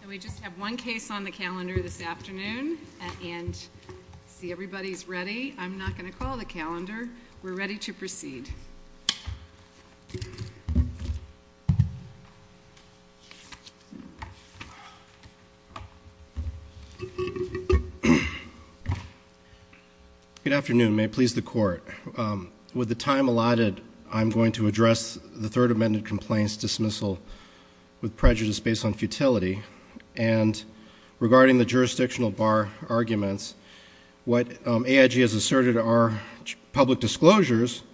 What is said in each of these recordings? And we just have one case on the calendar this afternoon and see everybody's ready. I'm not going to call the calendar. We're ready to proceed. Good afternoon. May it please the court. With the time allotted, I'm going to address the Third Amendment complaints dismissal with prejudice based on futility. And regarding the jurisdictional bar arguments, what AIG has asserted are public disclosures,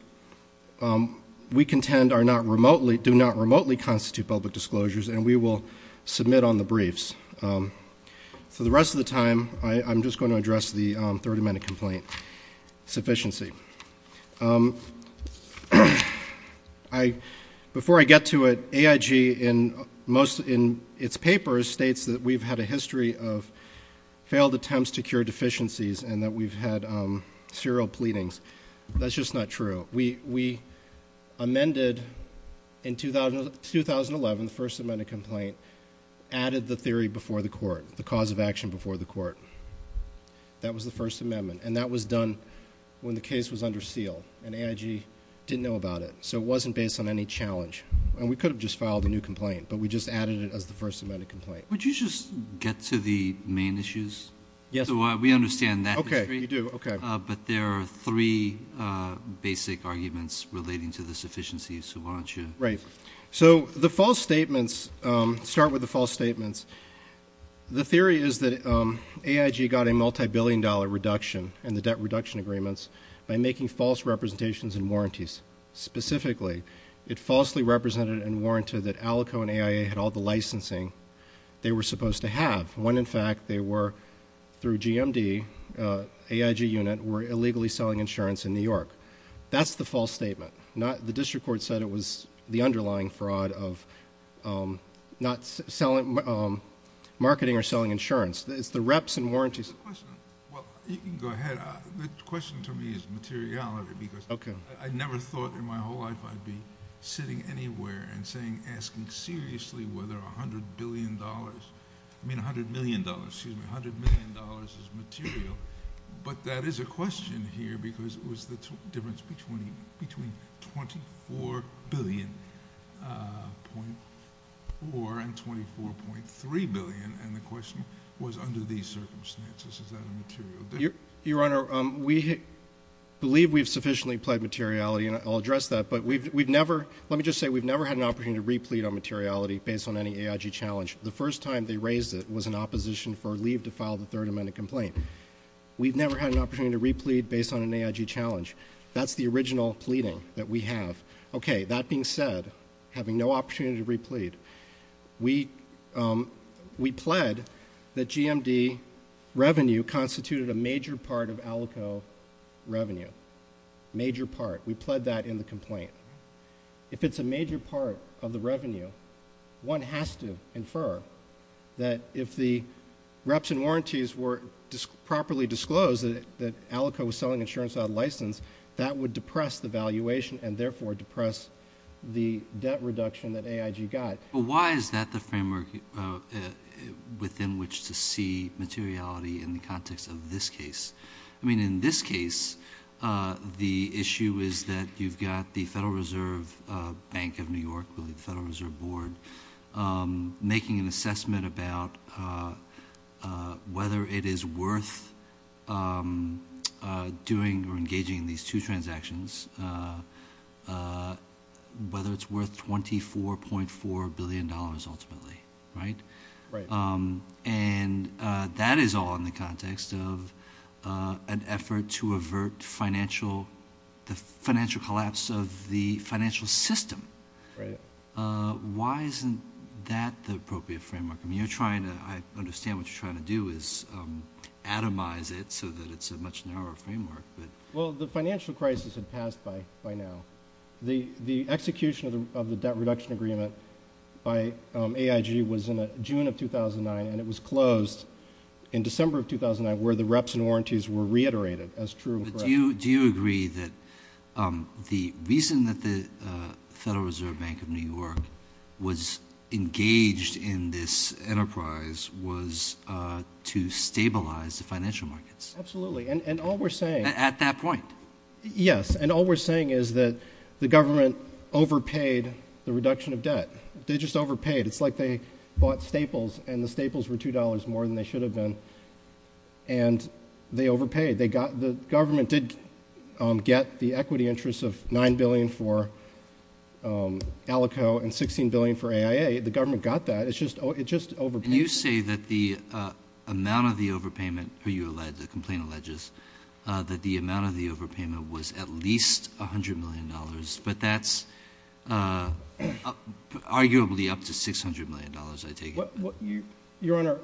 we contend do not remotely constitute public disclosures and we will submit on the briefs. So the rest of the time, I'm just going to address the Third Amendment complaint sufficiency. Before I get to it, AIG in its papers states that we've had a history of failed attempts to cure deficiencies and that we've had serial pleadings. That's just not true. We amended in 2011, the First Amendment complaint, added the theory before the court, the cause of action before the court. That was the First Amendment and that was done when the case was under seal and AIG didn't know about it. So it wasn't based on any challenge and we could have just filed a new complaint, but we just added it as the First Amendment complaint. Would you just get to the main issues? Yes. So we understand that. Okay, you do, okay. But there are three basic arguments relating to the sufficiency, so why don't you? Right. So the false statements, start with the false statements. The theory is that AIG got a multi-billion dollar reduction in the debt reduction agreements by making false representations and warranties. Specifically, it falsely represented and warranted that ALICO and AIA had all the licensing they were supposed to have, when in fact they were, through GMD, AIG unit, were illegally selling insurance in New York. That's the false statement. The district court said it was the underlying fraud of not marketing or selling insurance. It's the reps and warranties. Well, you can go ahead. The question to me is materiality because I never thought in my whole life I'd be sitting anywhere and asking seriously whether $100 million is material. But that is a question here because it was the difference between $24.4 billion and $24.3 billion, and the question was under these circumstances, is that a material difference? Your Honor, we believe we've sufficiently applied materiality, and I'll address that. But let me just say we've never had an opportunity to replete on materiality based on any AIG challenge. The first time they raised it was in opposition for leave to file the Third Amendment complaint. We've never had an opportunity to replete based on an AIG challenge. That's the original pleading that we have. Okay. That being said, having no opportunity to replete, we pled that GMD revenue constituted a major part of ALICO revenue. Major part. We pled that in the complaint. If it's a major part of the revenue, one has to infer that if the reps and warranties were properly disclosed that ALICO was selling insurance without a license, that would depress the valuation and therefore depress the debt reduction that AIG got. But why is that the framework within which to see materiality in the context of this case? I mean, in this case, the issue is that you've got the Federal Reserve Bank of New York, really the Federal Reserve Board, making an assessment about whether it is worth doing or engaging in these two transactions, whether it's worth $24.4 billion ultimately. Right? Right. And that is all in the context of an effort to avert the financial collapse of the financial system. Right. Why isn't that the appropriate framework? I understand what you're trying to do is atomize it so that it's a much narrower framework. Well, the financial crisis had passed by now. The execution of the debt reduction agreement by AIG was in June of 2009, and it was closed in December of 2009 where the reps and warranties were reiterated as true. Do you agree that the reason that the Federal Reserve Bank of New York was engaged in this enterprise was to stabilize the financial markets? Absolutely. And all we're saying— At that point? Yes. And all we're saying is that the government overpaid the reduction of debt. They just overpaid. It's like they bought Staples, and the Staples were $2 more than they should have been, and they overpaid. The government did get the equity interest of $9 billion for Alico and $16 billion for AIA. The government got that. It just overpaid. And you say that the amount of the overpayment, who you allege, the complaint alleges, that the amount of the overpayment was at least $100 million, but that's arguably up to $600 million, I take it. Your Honor,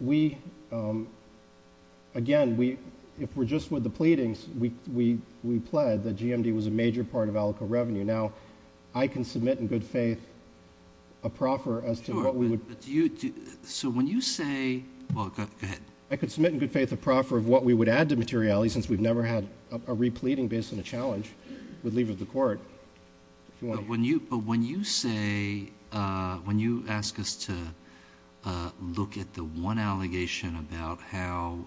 we—again, if we're just with the pleadings, we pled that GMD was a major part of Alico revenue. Now, I can submit in good faith a proffer as to what we would— Sure, but do you—so when you say—well, go ahead. I could submit in good faith a proffer of what we would add to materiality since we've never had a repleting based on a challenge with leave of the court. But when you say—when you ask us to look at the one allegation about how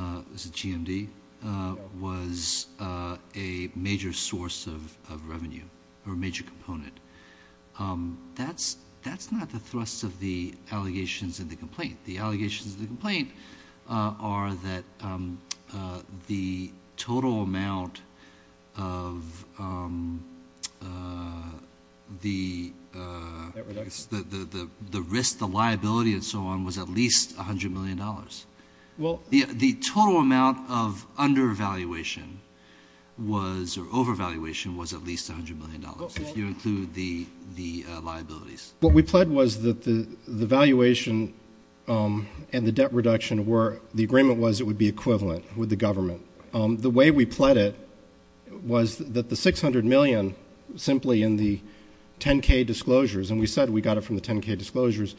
GMD was a major source of revenue or a major component, that's not the thrust of the allegations in the complaint. The allegations in the complaint are that the total amount of the risk, the liability, and so on was at least $100 million. The total amount of undervaluation was—or overvaluation was at least $100 million if you include the liabilities. What we pled was that the valuation and the debt reduction were—the agreement was it would be equivalent with the government. The way we pled it was that the $600 million simply in the 10-K disclosures, and we said we got it from the 10-K disclosures,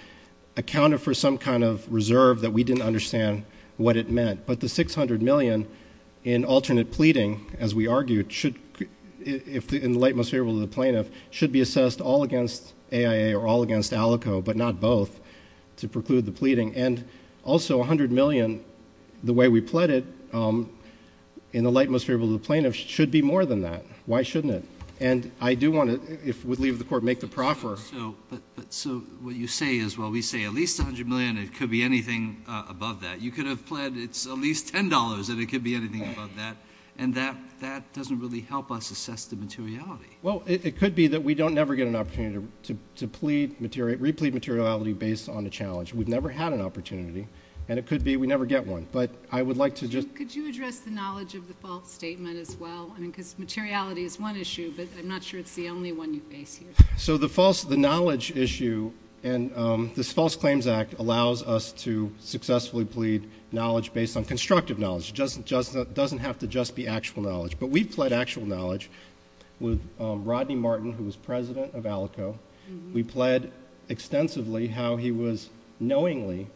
accounted for some kind of reserve that we didn't understand what it meant. But the $600 million in alternate pleading, as we argued, in the light most favorable to the plaintiff, should be assessed all against AIA or all against ALICO but not both to preclude the pleading. And also $100 million, the way we pled it, in the light most favorable to the plaintiff should be more than that. Why shouldn't it? And I do want to, if we leave the court, make the proffer. So what you say is, well, we say at least $100 million. It could be anything above that. You could have pled it's at least $10, and it could be anything above that. And that doesn't really help us assess the materiality. Well, it could be that we don't ever get an opportunity to replead materiality based on a challenge. We've never had an opportunity, and it could be we never get one. But I would like to just— Could you address the knowledge of the false statement as well? I mean, because materiality is one issue, but I'm not sure it's the only one you face here. So the knowledge issue and this False Claims Act allows us to successfully plead knowledge based on constructive knowledge. It doesn't have to just be actual knowledge. But we've pled actual knowledge with Rodney Martin, who was president of ALICO. We pled extensively how he was knowingly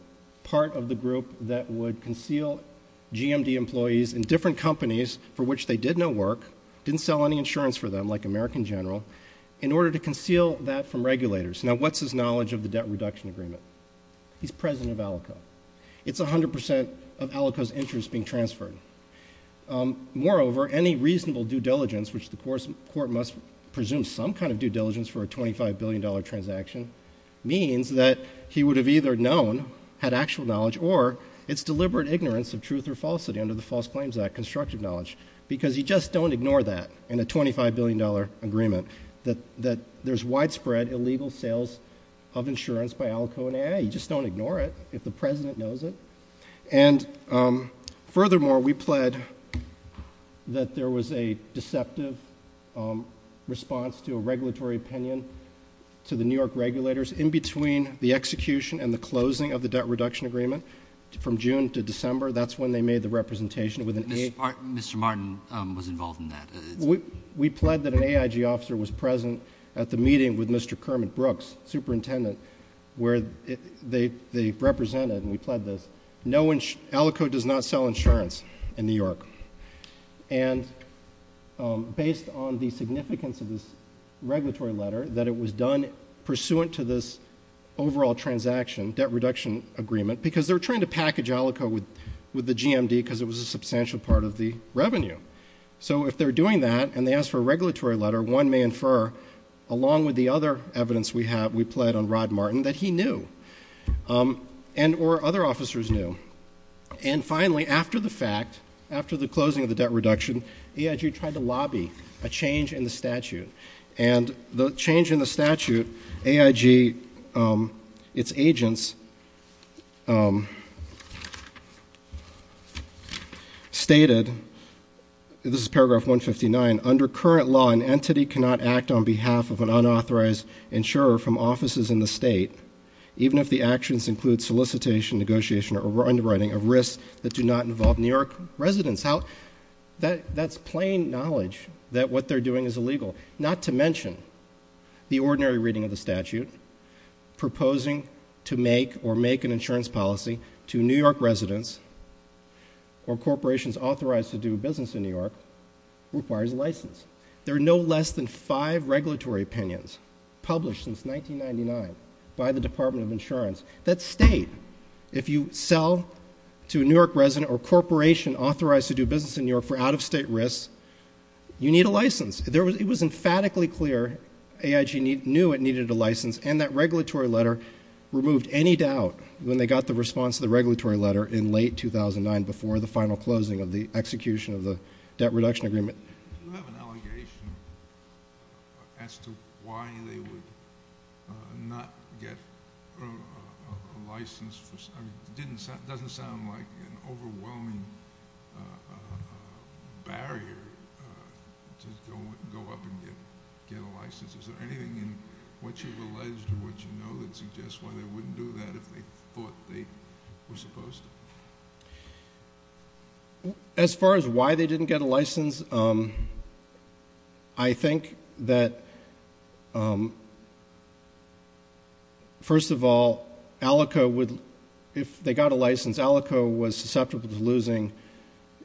part of the group that would conceal GMD employees in different companies for which they did no work, didn't sell any insurance for them, like American General, in order to conceal that from regulators. Now, what's his knowledge of the debt reduction agreement? He's president of ALICO. It's 100 percent of ALICO's interest being transferred. Moreover, any reasonable due diligence, which the court must presume some kind of due diligence for a $25 billion transaction, means that he would have either known, had actual knowledge, or it's deliberate ignorance of truth or falsity under the False Claims Act, constructive knowledge, because you just don't ignore that in a $25 billion agreement, that there's widespread illegal sales of insurance by ALICO. You just don't ignore it if the president knows it. And furthermore, we pled that there was a deceptive response to a regulatory opinion to the New York regulators in between the execution and the closing of the debt reduction agreement from June to December. That's when they made the representation. Mr. Martin was involved in that. We pled that an AIG officer was present at the meeting with Mr. Kermit Brooks, superintendent, where they represented, and we pled this, ALICO does not sell insurance in New York. And based on the significance of this regulatory letter, that it was done pursuant to this overall transaction, debt reduction agreement, because they're trying to package ALICO with the GMD because it was a substantial part of the revenue. So if they're doing that and they ask for a regulatory letter, one may infer, along with the other evidence we have, we pled on Rod Martin, that he knew, and or other officers knew. And finally, after the fact, after the closing of the debt reduction, AIG tried to lobby a change in the statute. And the change in the statute, AIG, its agents stated, this is paragraph 159, under current law an entity cannot act on behalf of an unauthorized insurer from offices in the state, even if the actions include solicitation, negotiation, or underwriting of risks that do not involve New York residents. That's plain knowledge that what they're doing is illegal, not to mention the ordinary reading of the statute, proposing to make or make an insurance policy to New York residents or corporations authorized to do business in New York requires a license. There are no less than five regulatory opinions published since 1999 by the Department of Insurance that state if you sell to a New York resident or corporation authorized to do business in New York for out-of-state risks, you need a license. It was emphatically clear AIG knew it needed a license, and that regulatory letter removed any doubt when they got the response to the regulatory letter in late 2009, before the final closing of the execution of the debt reduction agreement. You have an allegation as to why they would not get a license. It doesn't sound like an overwhelming barrier to go up and get a license. Is there anything in what you've alleged or what you know that suggests why they wouldn't do that if they thought they were supposed to? As far as why they didn't get a license, I think that, first of all, if they got a license, Alaco was susceptible to losing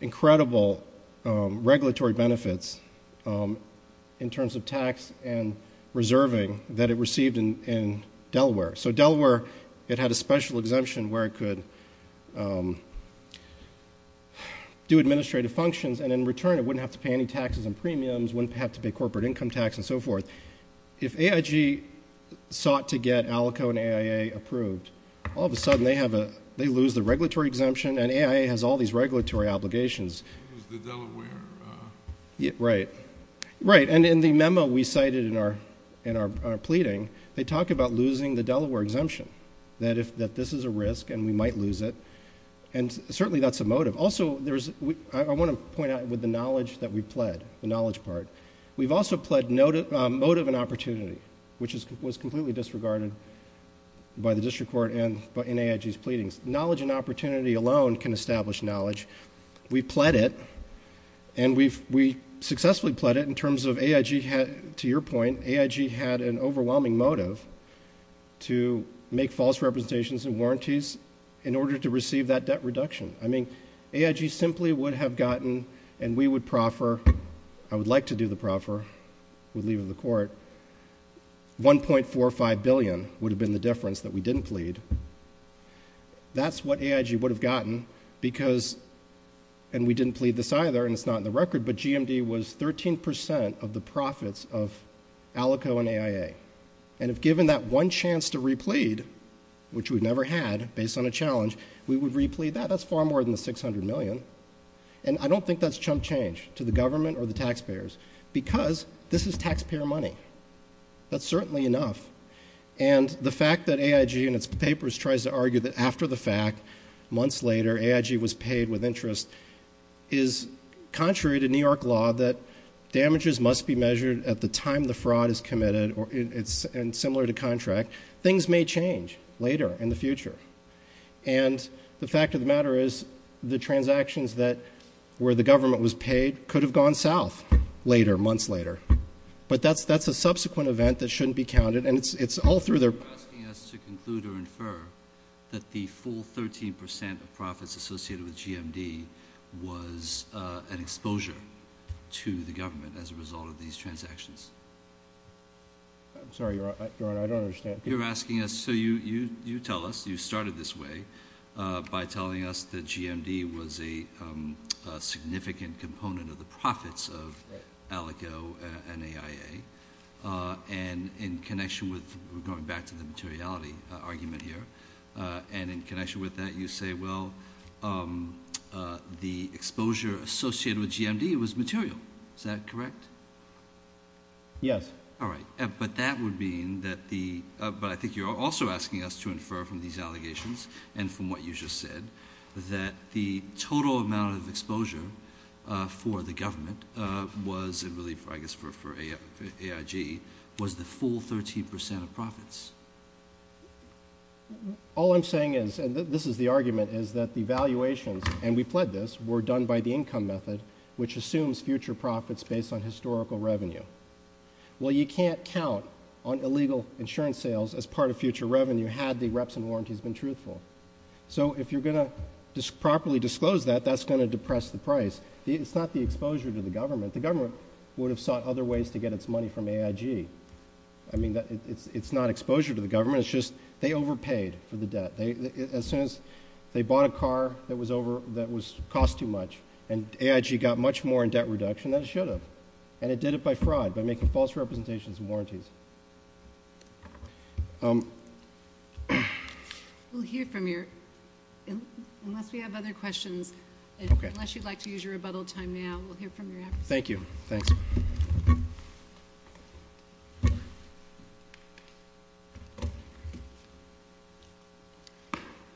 incredible regulatory benefits in terms of tax and reserving that it received in Delaware. So Delaware, it had a special exemption where it could do administrative functions, and in return it wouldn't have to pay any taxes and premiums, wouldn't have to pay corporate income tax and so forth. If AIG sought to get Alaco and AIA approved, all of a sudden they lose the regulatory exemption, and AIA has all these regulatory obligations. Lose the Delaware? Right. And in the memo we cited in our pleading, they talk about losing the Delaware exemption, that this is a risk and we might lose it, and certainly that's a motive. Also, I want to point out with the knowledge that we've pled, the knowledge part, we've also pled motive and opportunity, which was completely disregarded by the district court and AIG's pleadings. Knowledge and opportunity alone can establish knowledge. We pled it, and we successfully pled it in terms of AIG, to your point, AIG had an overwhelming motive to make false representations and warranties in order to receive that debt reduction. I mean, AIG simply would have gotten, and we would proffer, I would like to do the proffer, would leave it to the court, $1.45 billion would have been the difference that we didn't plead. That's what AIG would have gotten because, and we didn't plead this either, and it's not in the record, but GMD was 13% of the profits of Alico and AIA. And if given that one chance to replead, which we've never had, based on a challenge, we would replead that. That's far more than the $600 million. And I don't think that's chump change to the government or the taxpayers, because this is taxpayer money. That's certainly enough. And the fact that AIG in its papers tries to argue that after the fact, months later, AIG was paid with interest is contrary to New York law that damages must be measured at the time the fraud is committed, and similar to contract, things may change later in the future. And the fact of the matter is the transactions where the government was paid could have gone south later, months later. But that's a subsequent event that shouldn't be counted. And it's all through there. You're asking us to conclude or infer that the full 13% of profits associated with GMD was an exposure to the government as a result of these transactions? I'm sorry, Your Honor, I don't understand. You're asking us, so you tell us. You started this way by telling us that GMD was a significant component of the profits of ALECO and AIA. And in connection with going back to the materiality argument here, and in connection with that, you say, well, the exposure associated with GMD was material. Is that correct? Yes. All right. But that would mean that the ‑‑ but I think you're also asking us to infer from these allegations and from what you just said that the total amount of exposure for the government was, and really I guess for AIG, was the full 13% of profits. All I'm saying is, and this is the argument, is that the valuations, and we pled this, were done by the income method, which assumes future profits based on historical revenue. Well, you can't count on illegal insurance sales as part of future revenue had the reps and warranties been truthful. So if you're going to properly disclose that, that's going to depress the price. It's not the exposure to the government. The government would have sought other ways to get its money from AIG. I mean, it's not exposure to the government. It's just they overpaid for the debt. As soon as they bought a car that was over, that cost too much, and AIG got much more in debt reduction than it should have. And it did it by fraud, by making false representations and warranties. We'll hear from you unless we have other questions. Unless you'd like to use your rebuttal time now, we'll hear from you afterwards. Thank you. Thanks.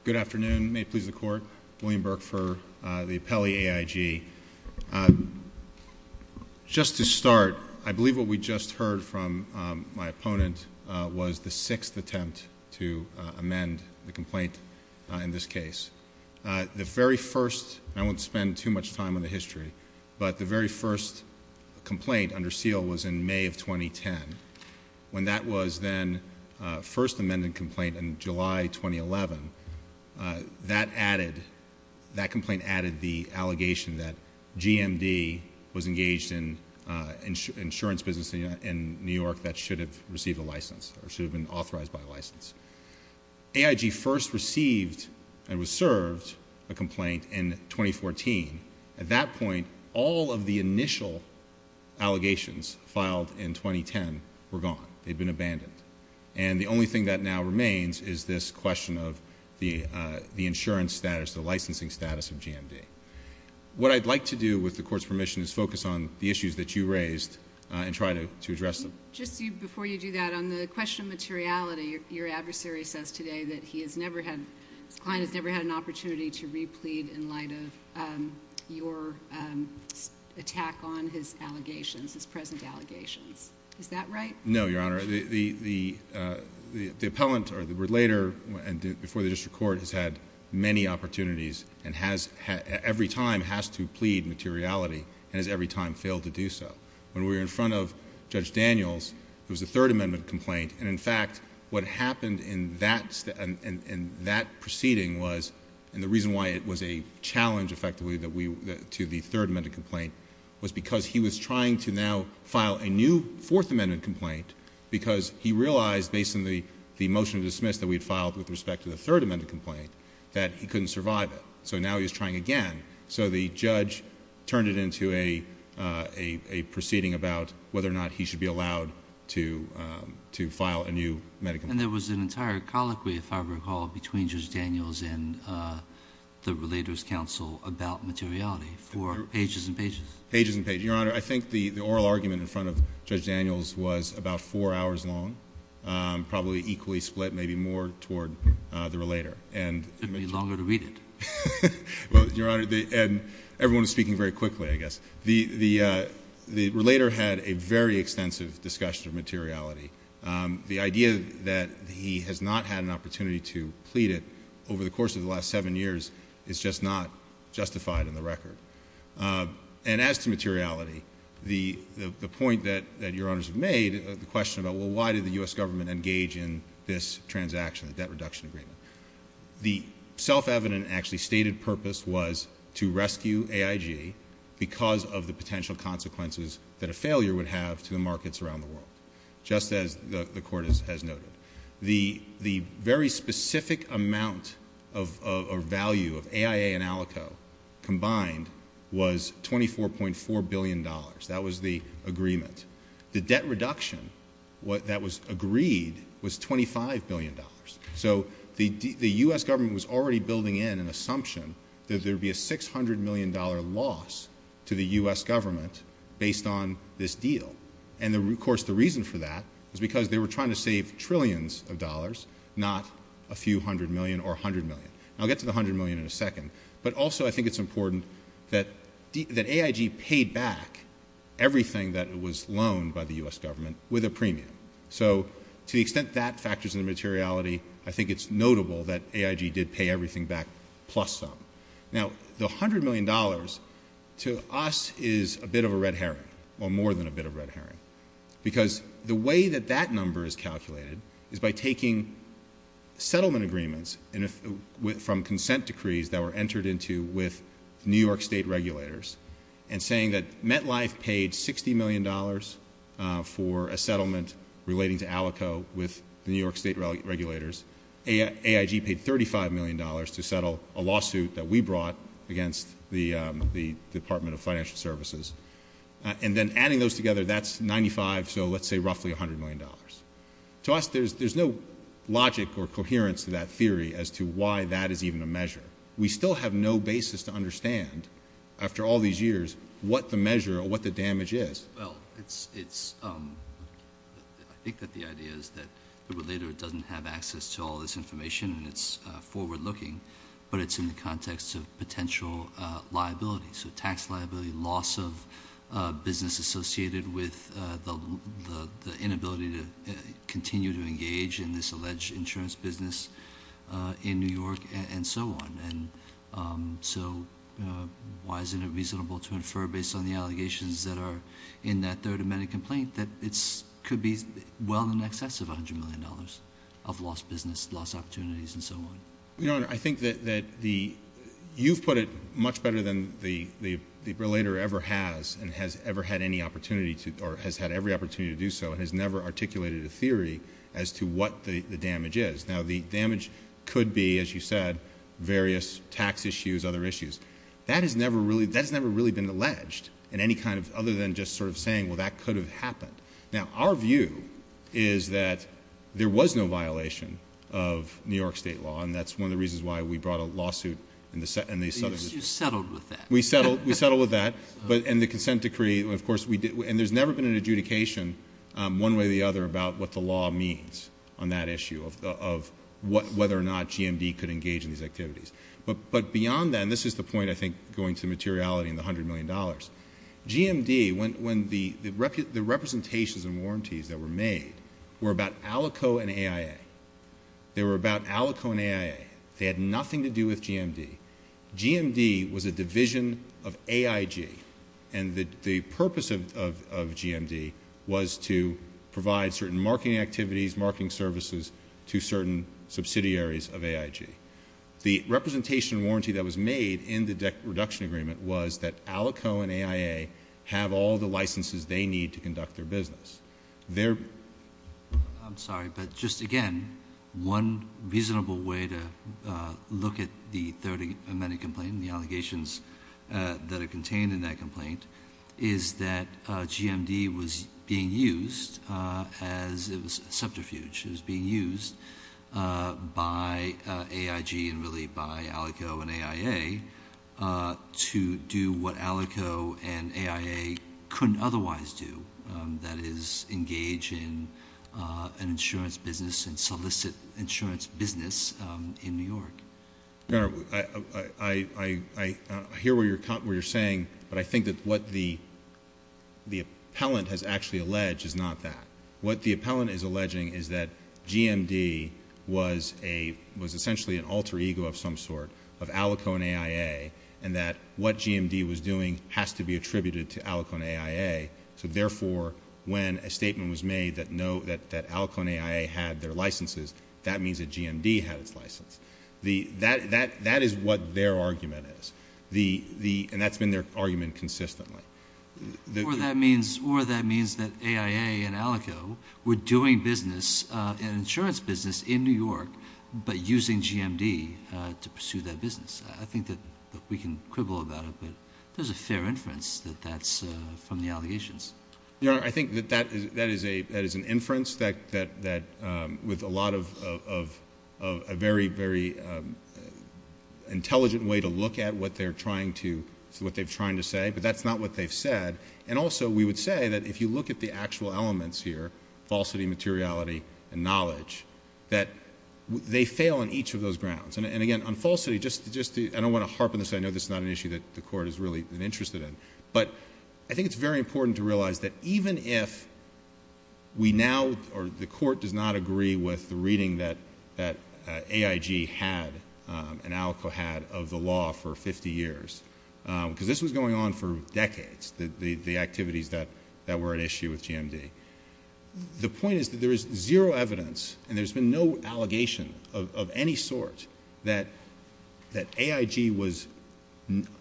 Good afternoon. May it please the Court. William Burke for the appellee AIG. Just to start, I believe what we just heard from my opponent was the sixth attempt to amend the complaint in this case. The very first, and I won't spend too much time on the history, but the very first complaint under seal was in May of 2010. When that was then first amended complaint in July 2011, that added, that complaint added the allegation that GMD was engaged in insurance business in New York that should have received a license or should have been authorized by a license. AIG first received and was served a complaint in 2014. At that point, all of the initial allegations filed in 2010 were gone. They'd been abandoned. And the only thing that now remains is this question of the insurance status, the licensing status of GMD. What I'd like to do with the Court's permission is focus on the issues that you raised and try to address them. Just before you do that, on the question of materiality, your adversary says today that he has never had, his client has never had an opportunity to replead in light of your attack on his allegations, his present allegations. Is that right? No, Your Honor. The appellant or the relator before the district court has had many opportunities and every time has to plead materiality and has every time failed to do so. When we were in front of Judge Daniels, it was a Third Amendment complaint, and in fact what happened in that proceeding was, and the reason why it was a challenge effectively to the Third Amendment complaint, was because he was trying to now file a new Fourth Amendment complaint because he realized, based on the motion to dismiss that we had filed with respect to the Third Amendment complaint, that he couldn't survive it. So now he was trying again. So the judge turned it into a proceeding about whether or not he should be allowed to file a new medical complaint. And there was an entire colloquy, if I recall, between Judge Daniels and the relator's counsel about materiality for pages and pages. Pages and pages. Your Honor, I think the oral argument in front of Judge Daniels was about four hours long, probably equally split, maybe more, toward the relator. It took me longer to read it. Well, Your Honor, and everyone was speaking very quickly, I guess. The relator had a very extensive discussion of materiality. The idea that he has not had an opportunity to plead it over the course of the last seven years is just not justified in the record. And as to materiality, the point that Your Honors have made, the question about, well, why did the U.S. government engage in this transaction, the debt reduction agreement, the self-evident actually stated purpose was to rescue AIG because of the potential consequences that a failure would have to the markets around the world. Just as the Court has noted. The very specific amount or value of AIA and Alico combined was $24.4 billion. That was the agreement. The debt reduction that was agreed was $25 billion. So the U.S. government was already building in an assumption that there would be a $600 million loss to the U.S. government based on this deal. And, of course, the reason for that is because they were trying to save trillions of dollars, not a few hundred million or a hundred million. I'll get to the hundred million in a second. But also I think it's important that AIG paid back everything that was loaned by the U.S. government with a premium. So to the extent that factors in the materiality, I think it's notable that AIG did pay everything back plus some. Now, the $100 million to us is a bit of a red herring or more than a bit of a red herring because the way that that number is calculated is by taking settlement agreements from consent decrees that were entered into with New York State regulators and saying that MetLife paid $60 million for a settlement relating to Alico with the New York State regulators. AIG paid $35 million to settle a lawsuit that we brought against the Department of Financial Services. And then adding those together, that's 95, so let's say roughly $100 million. To us, there's no logic or coherence to that theory as to why that is even a measure. We still have no basis to understand after all these years what the measure or what the damage is. Well, I think that the idea is that the relator doesn't have access to all this information and it's forward-looking, but it's in the context of potential liability. So tax liability, loss of business associated with the inability to continue to engage in this alleged insurance business in New York, and so on. So why isn't it reasonable to infer based on the allegations that are in that third amended complaint that it could be well in excess of $100 million of lost business, lost opportunities, and so on? Your Honor, I think that you've put it much better than the relator ever has and has ever had any opportunity to, or has had every opportunity to do so and has never articulated a theory as to what the damage is. Now, the damage could be, as you said, various tax issues, other issues. That has never really been alleged in any kind of other than just sort of saying, well, that could have happened. Now, our view is that there was no violation of New York state law, and that's one of the reasons why we brought a lawsuit and they settled it. You settled with that. We settled with that, and the consent decree, of course, we did. And there's never been an adjudication one way or the other about what the law means on that issue of whether or not GMD could engage in these activities. But beyond that, and this is the point, I think, going to materiality and the $100 million, GMD, when the representations and warranties that were made were about Alico and AIA. They were about Alico and AIA. They had nothing to do with GMD. GMD was a division of AIG, and the purpose of GMD was to provide certain marketing activities, marketing services to certain subsidiaries of AIG. The representation warranty that was made in the debt reduction agreement was that Alico and AIA have all the licenses they need to conduct their business. I'm sorry, but just again, one reasonable way to look at the third amended complaint and the allegations that are contained in that complaint is that GMD was being used as a subterfuge. It was being used by AIG and really by Alico and AIA to do what Alico and AIA couldn't otherwise do. That is, engage in an insurance business and solicit insurance business in New York. I hear what you're saying, but I think that what the appellant has actually alleged is not that. What the appellant is alleging is that GMD was essentially an alter ego of some sort of Alico and AIA, and that what GMD was doing has to be attributed to Alico and AIA. So therefore, when a statement was made that Alico and AIA had their licenses, that means that GMD had its license. That is what their argument is, and that's been their argument consistently. Or that means that AIA and Alico were doing business, an insurance business in New York, but using GMD to pursue that business. I think that we can quibble about it, but there's a fair inference that that's from the allegations. Your Honor, I think that that is an inference with a lot of a very, very intelligent way to look at what they're trying to say, but that's not what they've said. And also we would say that if you look at the actual elements here, falsity, materiality, and knowledge, that they fail on each of those grounds. And again, on falsity, I don't want to harp on this. I know this is not an issue that the Court has really been interested in, but I think it's very important to realize that even if we now, or the Court does not agree with the reading that AIG had and Alico had of the law for 50 years, because this was going on for decades, the activities that were at issue with GMD, the point is that there is zero evidence, and there's been no allegation of any sort, that AIG was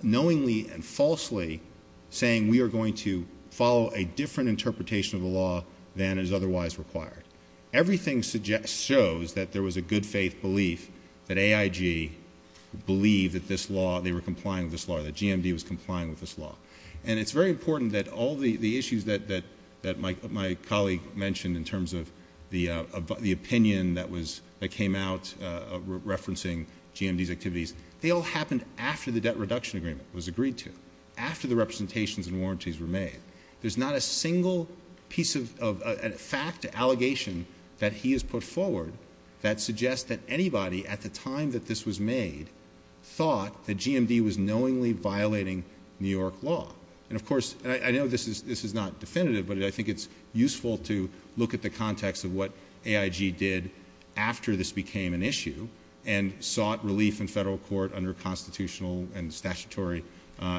knowingly and falsely saying, we are going to follow a different interpretation of the law than is otherwise required. Everything shows that there was a good faith belief that AIG believed that this law, they were complying with this law, that GMD was complying with this law. And it's very important that all the issues that my colleague mentioned in terms of the opinion that came out referencing GMD's activities, they all happened after the debt reduction agreement was agreed to, after the representations and warranties were made. There's not a single piece of fact, allegation that he has put forward that suggests that anybody at the time that this was made thought that GMD was knowingly violating New York law. And of course, I know this is not definitive, but I think it's useful to look at the context of what AIG did after this became an issue and sought relief in federal court under constitutional and statutory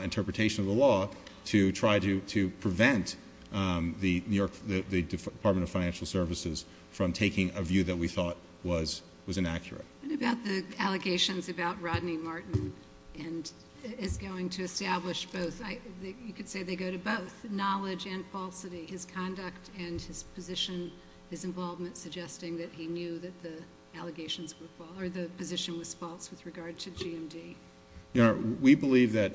interpretation of the law to try to prevent the Department of Financial Services from taking a view that we thought was inaccurate. What about the allegations about Rodney Martin and his going to establish both? You could say they go to both, knowledge and falsity, his conduct and his position, his involvement, suggesting that he knew that the allegations were false, or the position was false with regard to GMD. We believe that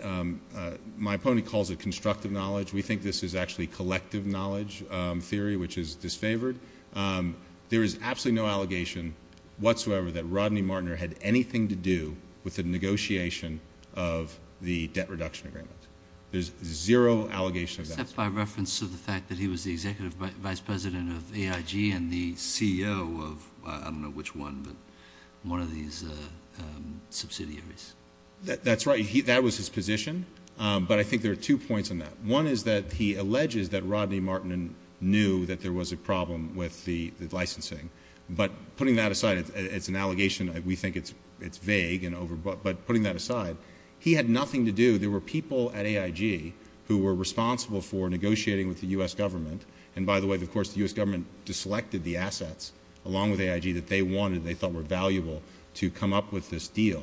my opponent calls it constructive knowledge. We think this is actually collective knowledge theory, which is disfavored. There is absolutely no allegation whatsoever that Rodney Martin had anything to do with the negotiation of the debt reduction agreement. There's zero allegation of that. Except by reference to the fact that he was the executive vice president of AIG and the CEO of, I don't know which one, but one of these subsidiaries. That's right. That was his position. But I think there are two points on that. One is that he alleges that Rodney Martin knew that there was a problem with the licensing. But putting that aside, it's an allegation. We think it's vague, but putting that aside, he had nothing to do. There were people at AIG who were responsible for negotiating with the U.S. government. And by the way, of course, the U.S. government just selected the assets along with AIG that they wanted, they thought were valuable, to come up with this deal.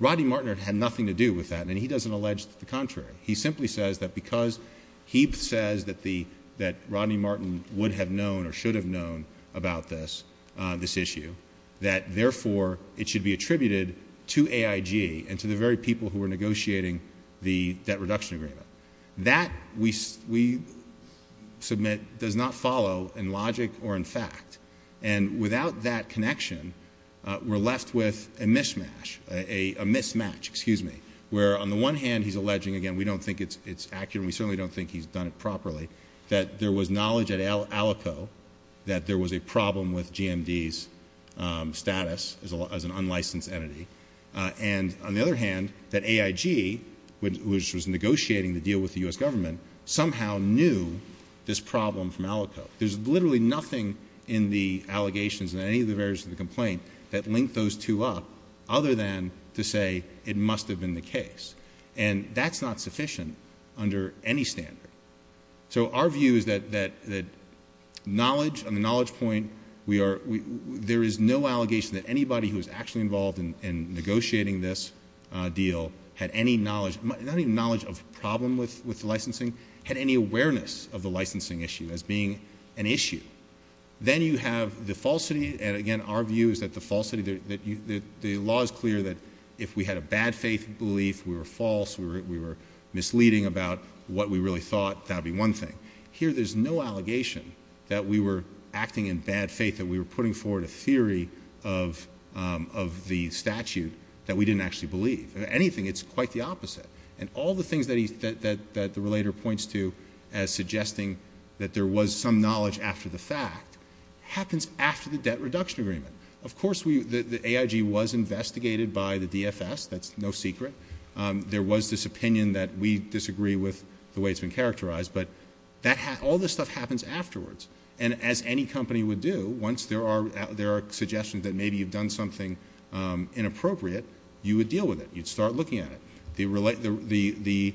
Rodney Martin had nothing to do with that, and he doesn't allege the contrary. He simply says that because he says that Rodney Martin would have known or should have known about this issue, that therefore it should be attributed to AIG and to the very people who were negotiating the debt reduction agreement. That, we submit, does not follow in logic or in fact. And without that connection, we're left with a mismatch, where on the one hand he's alleging, again, we don't think it's accurate and we certainly don't think he's done it properly, that there was knowledge at Alaco that there was a problem with GMD's status as an unlicensed entity. And on the other hand, that AIG, which was negotiating the deal with the U.S. government, somehow knew this problem from Alaco. There's literally nothing in the allegations in any of the various of the complaint that link those two up other than to say it must have been the case. And that's not sufficient under any standard. So our view is that knowledge, on the knowledge point, there is no allegation that anybody who was actually involved in negotiating this deal had any knowledge, not even knowledge of the problem with licensing, had any awareness of the licensing issue as being an issue. Then you have the falsity. And again, our view is that the law is clear that if we had a bad faith belief, we were false, we were misleading about what we really thought, that would be one thing. Here there's no allegation that we were acting in bad faith, that we were putting forward a theory of the statute that we didn't actually believe. Anything, it's quite the opposite. And all the things that the relator points to as suggesting that there was some knowledge after the fact happens after the debt reduction agreement. Of course, the AIG was investigated by the DFS. That's no secret. There was this opinion that we disagree with the way it's been characterized. But all this stuff happens afterwards. And as any company would do, once there are suggestions that maybe you've done something inappropriate, you would deal with it. You'd start looking at it. The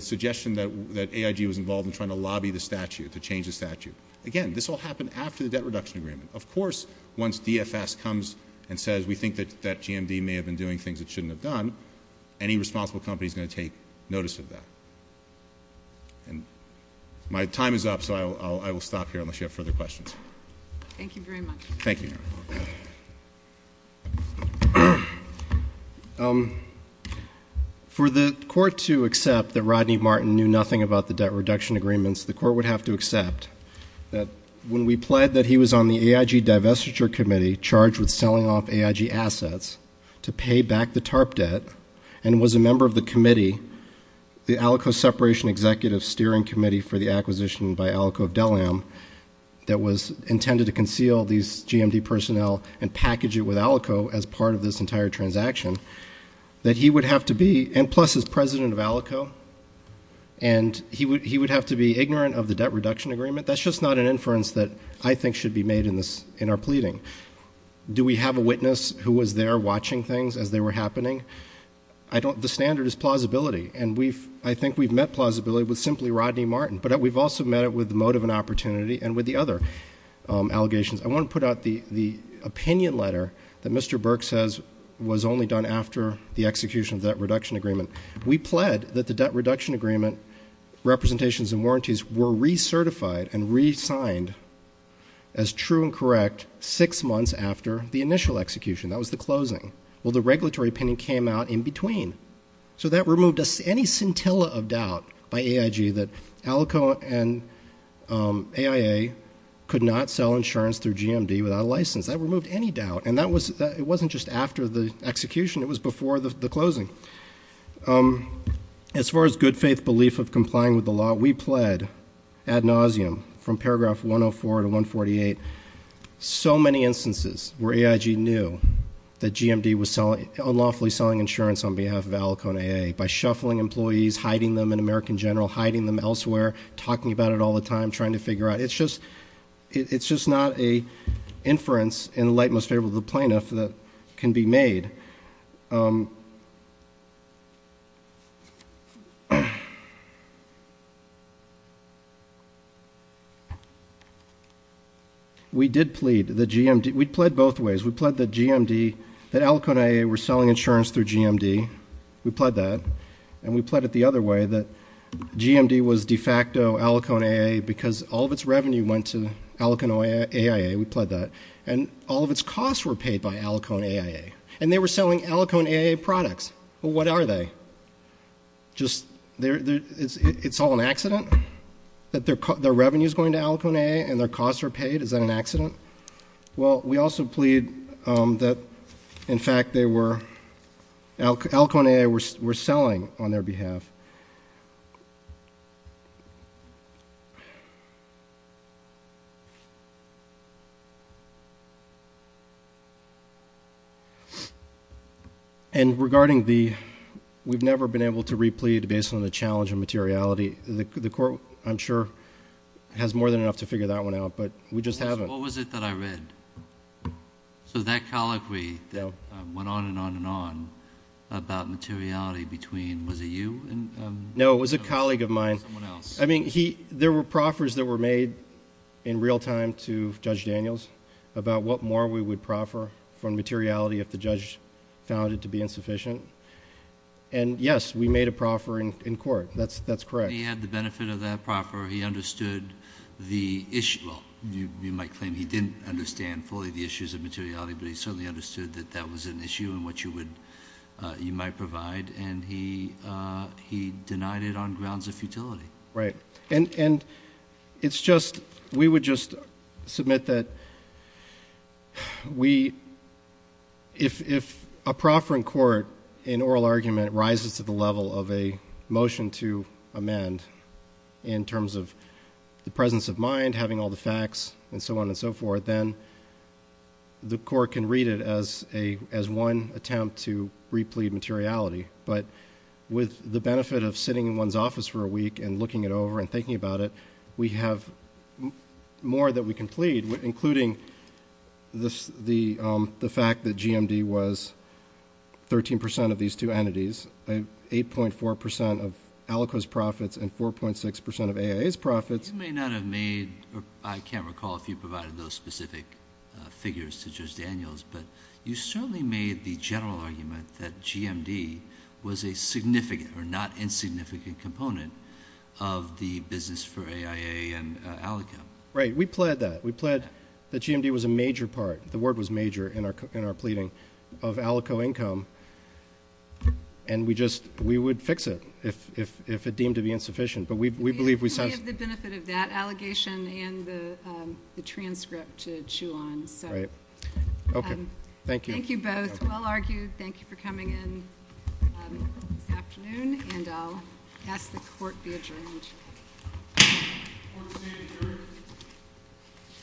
suggestion that AIG was involved in trying to lobby the statute, to change the statute. Again, this all happened after the debt reduction agreement. Of course, once DFS comes and says we think that GMD may have been doing things it shouldn't have done, any responsible company is going to take notice of that. My time is up, so I will stop here unless you have further questions. Thank you very much. Thank you. For the court to accept that Rodney Martin knew nothing about the debt reduction agreements, the court would have to accept that when we pled that he was on the AIG divestiture committee charged with selling off AIG assets to pay back the TARP debt and was a member of the committee, the Alaco Separation Executive Steering Committee for the Acquisition by Alaco of Delam, that was intended to conceal these GMD personnel and package it with Alaco as part of this entire transaction, that he would have to be, and plus he's president of Alaco, and he would have to be ignorant of the debt reduction agreement. That's just not an inference that I think should be made in our pleading. Do we have a witness who was there watching things as they were happening? The standard is plausibility, and I think we've met plausibility with simply Rodney Martin, but we've also met it with the motive and opportunity and with the other allegations. I want to put out the opinion letter that Mr. Burke says was only done after the execution of the debt reduction agreement. We pled that the debt reduction agreement representations and warranties were recertified and re-signed as true and correct six months after the initial execution. That was the closing. Well, the regulatory opinion came out in between, so that removed any scintilla of doubt by AIG that Alaco and AIA could not sell insurance through GMD without a license. That removed any doubt, and it wasn't just after the execution. It was before the closing. As far as good faith belief of complying with the law, we pled ad nauseam from paragraph 104 to 148. So many instances where AIG knew that GMD was unlawfully selling insurance on behalf of Alaco and AIA by shuffling employees, hiding them in American General, hiding them elsewhere, talking about it all the time, trying to figure out. It's just not an inference in the light most favorable to the plaintiff that can be made. We pled both ways. We pled that GMD, that Alaco and AIA were selling insurance through GMD. We pled that. And we pled it the other way, that GMD was de facto Alaco and AIA because all of its revenue went to Alaco and AIA. We pled that. And all of its costs were paid by Alaco and AIA. And they were selling Alaco and AIA products. Well, what are they? Just it's all an accident that their revenue is going to Alaco and AIA and their costs are paid? Is that an accident? Well, we also pled that, in fact, Alaco and AIA were selling on their behalf. And regarding the we've never been able to repled based on the challenge of materiality, I'm sure has more than enough to figure that one out, but we just haven't. What was it that I read? So that colloquy that went on and on and on about materiality between, was it you? No, it was a colleague of mine. Someone else. I mean, there were proffers that were made in real time to Judge Daniels about what more we would proffer from materiality if the judge found it to be insufficient. And, yes, we made a proffer in court. That's correct. He had the benefit of that proffer. He understood the issue. Well, you might claim he didn't understand fully the issues of materiality, but he certainly understood that that was an issue and what you might provide. And he denied it on grounds of futility. Right. And it's just we would just submit that we if a proffer in court in oral argument rises to the level of a motion to amend in terms of the presence of mind, having all the facts and so on and so forth, then the court can read it as a as one attempt to replete materiality. But with the benefit of sitting in one's office for a week and looking it over and thinking about it, we have more that we can plead, including the fact that GMD was 13 percent of these two entities, 8.4 percent of Alaco's profits and 4.6 percent of AIA's profits. You may not have made or I can't recall if you provided those specific figures to Judge Daniels, but you certainly made the general argument that GMD was a significant or not insignificant component of the business for AIA and Alaco. Right. We pled that. We pled that GMD was a major part. The word was major in our pleading of Alaco income, and we just we would fix it if it deemed to be insufficient. We have the benefit of that allegation and the transcript to chew on. Right. Thank you. Thank you both. Well argued. Thank you for coming in this afternoon, and I'll ask the court be adjourned. Court is adjourned.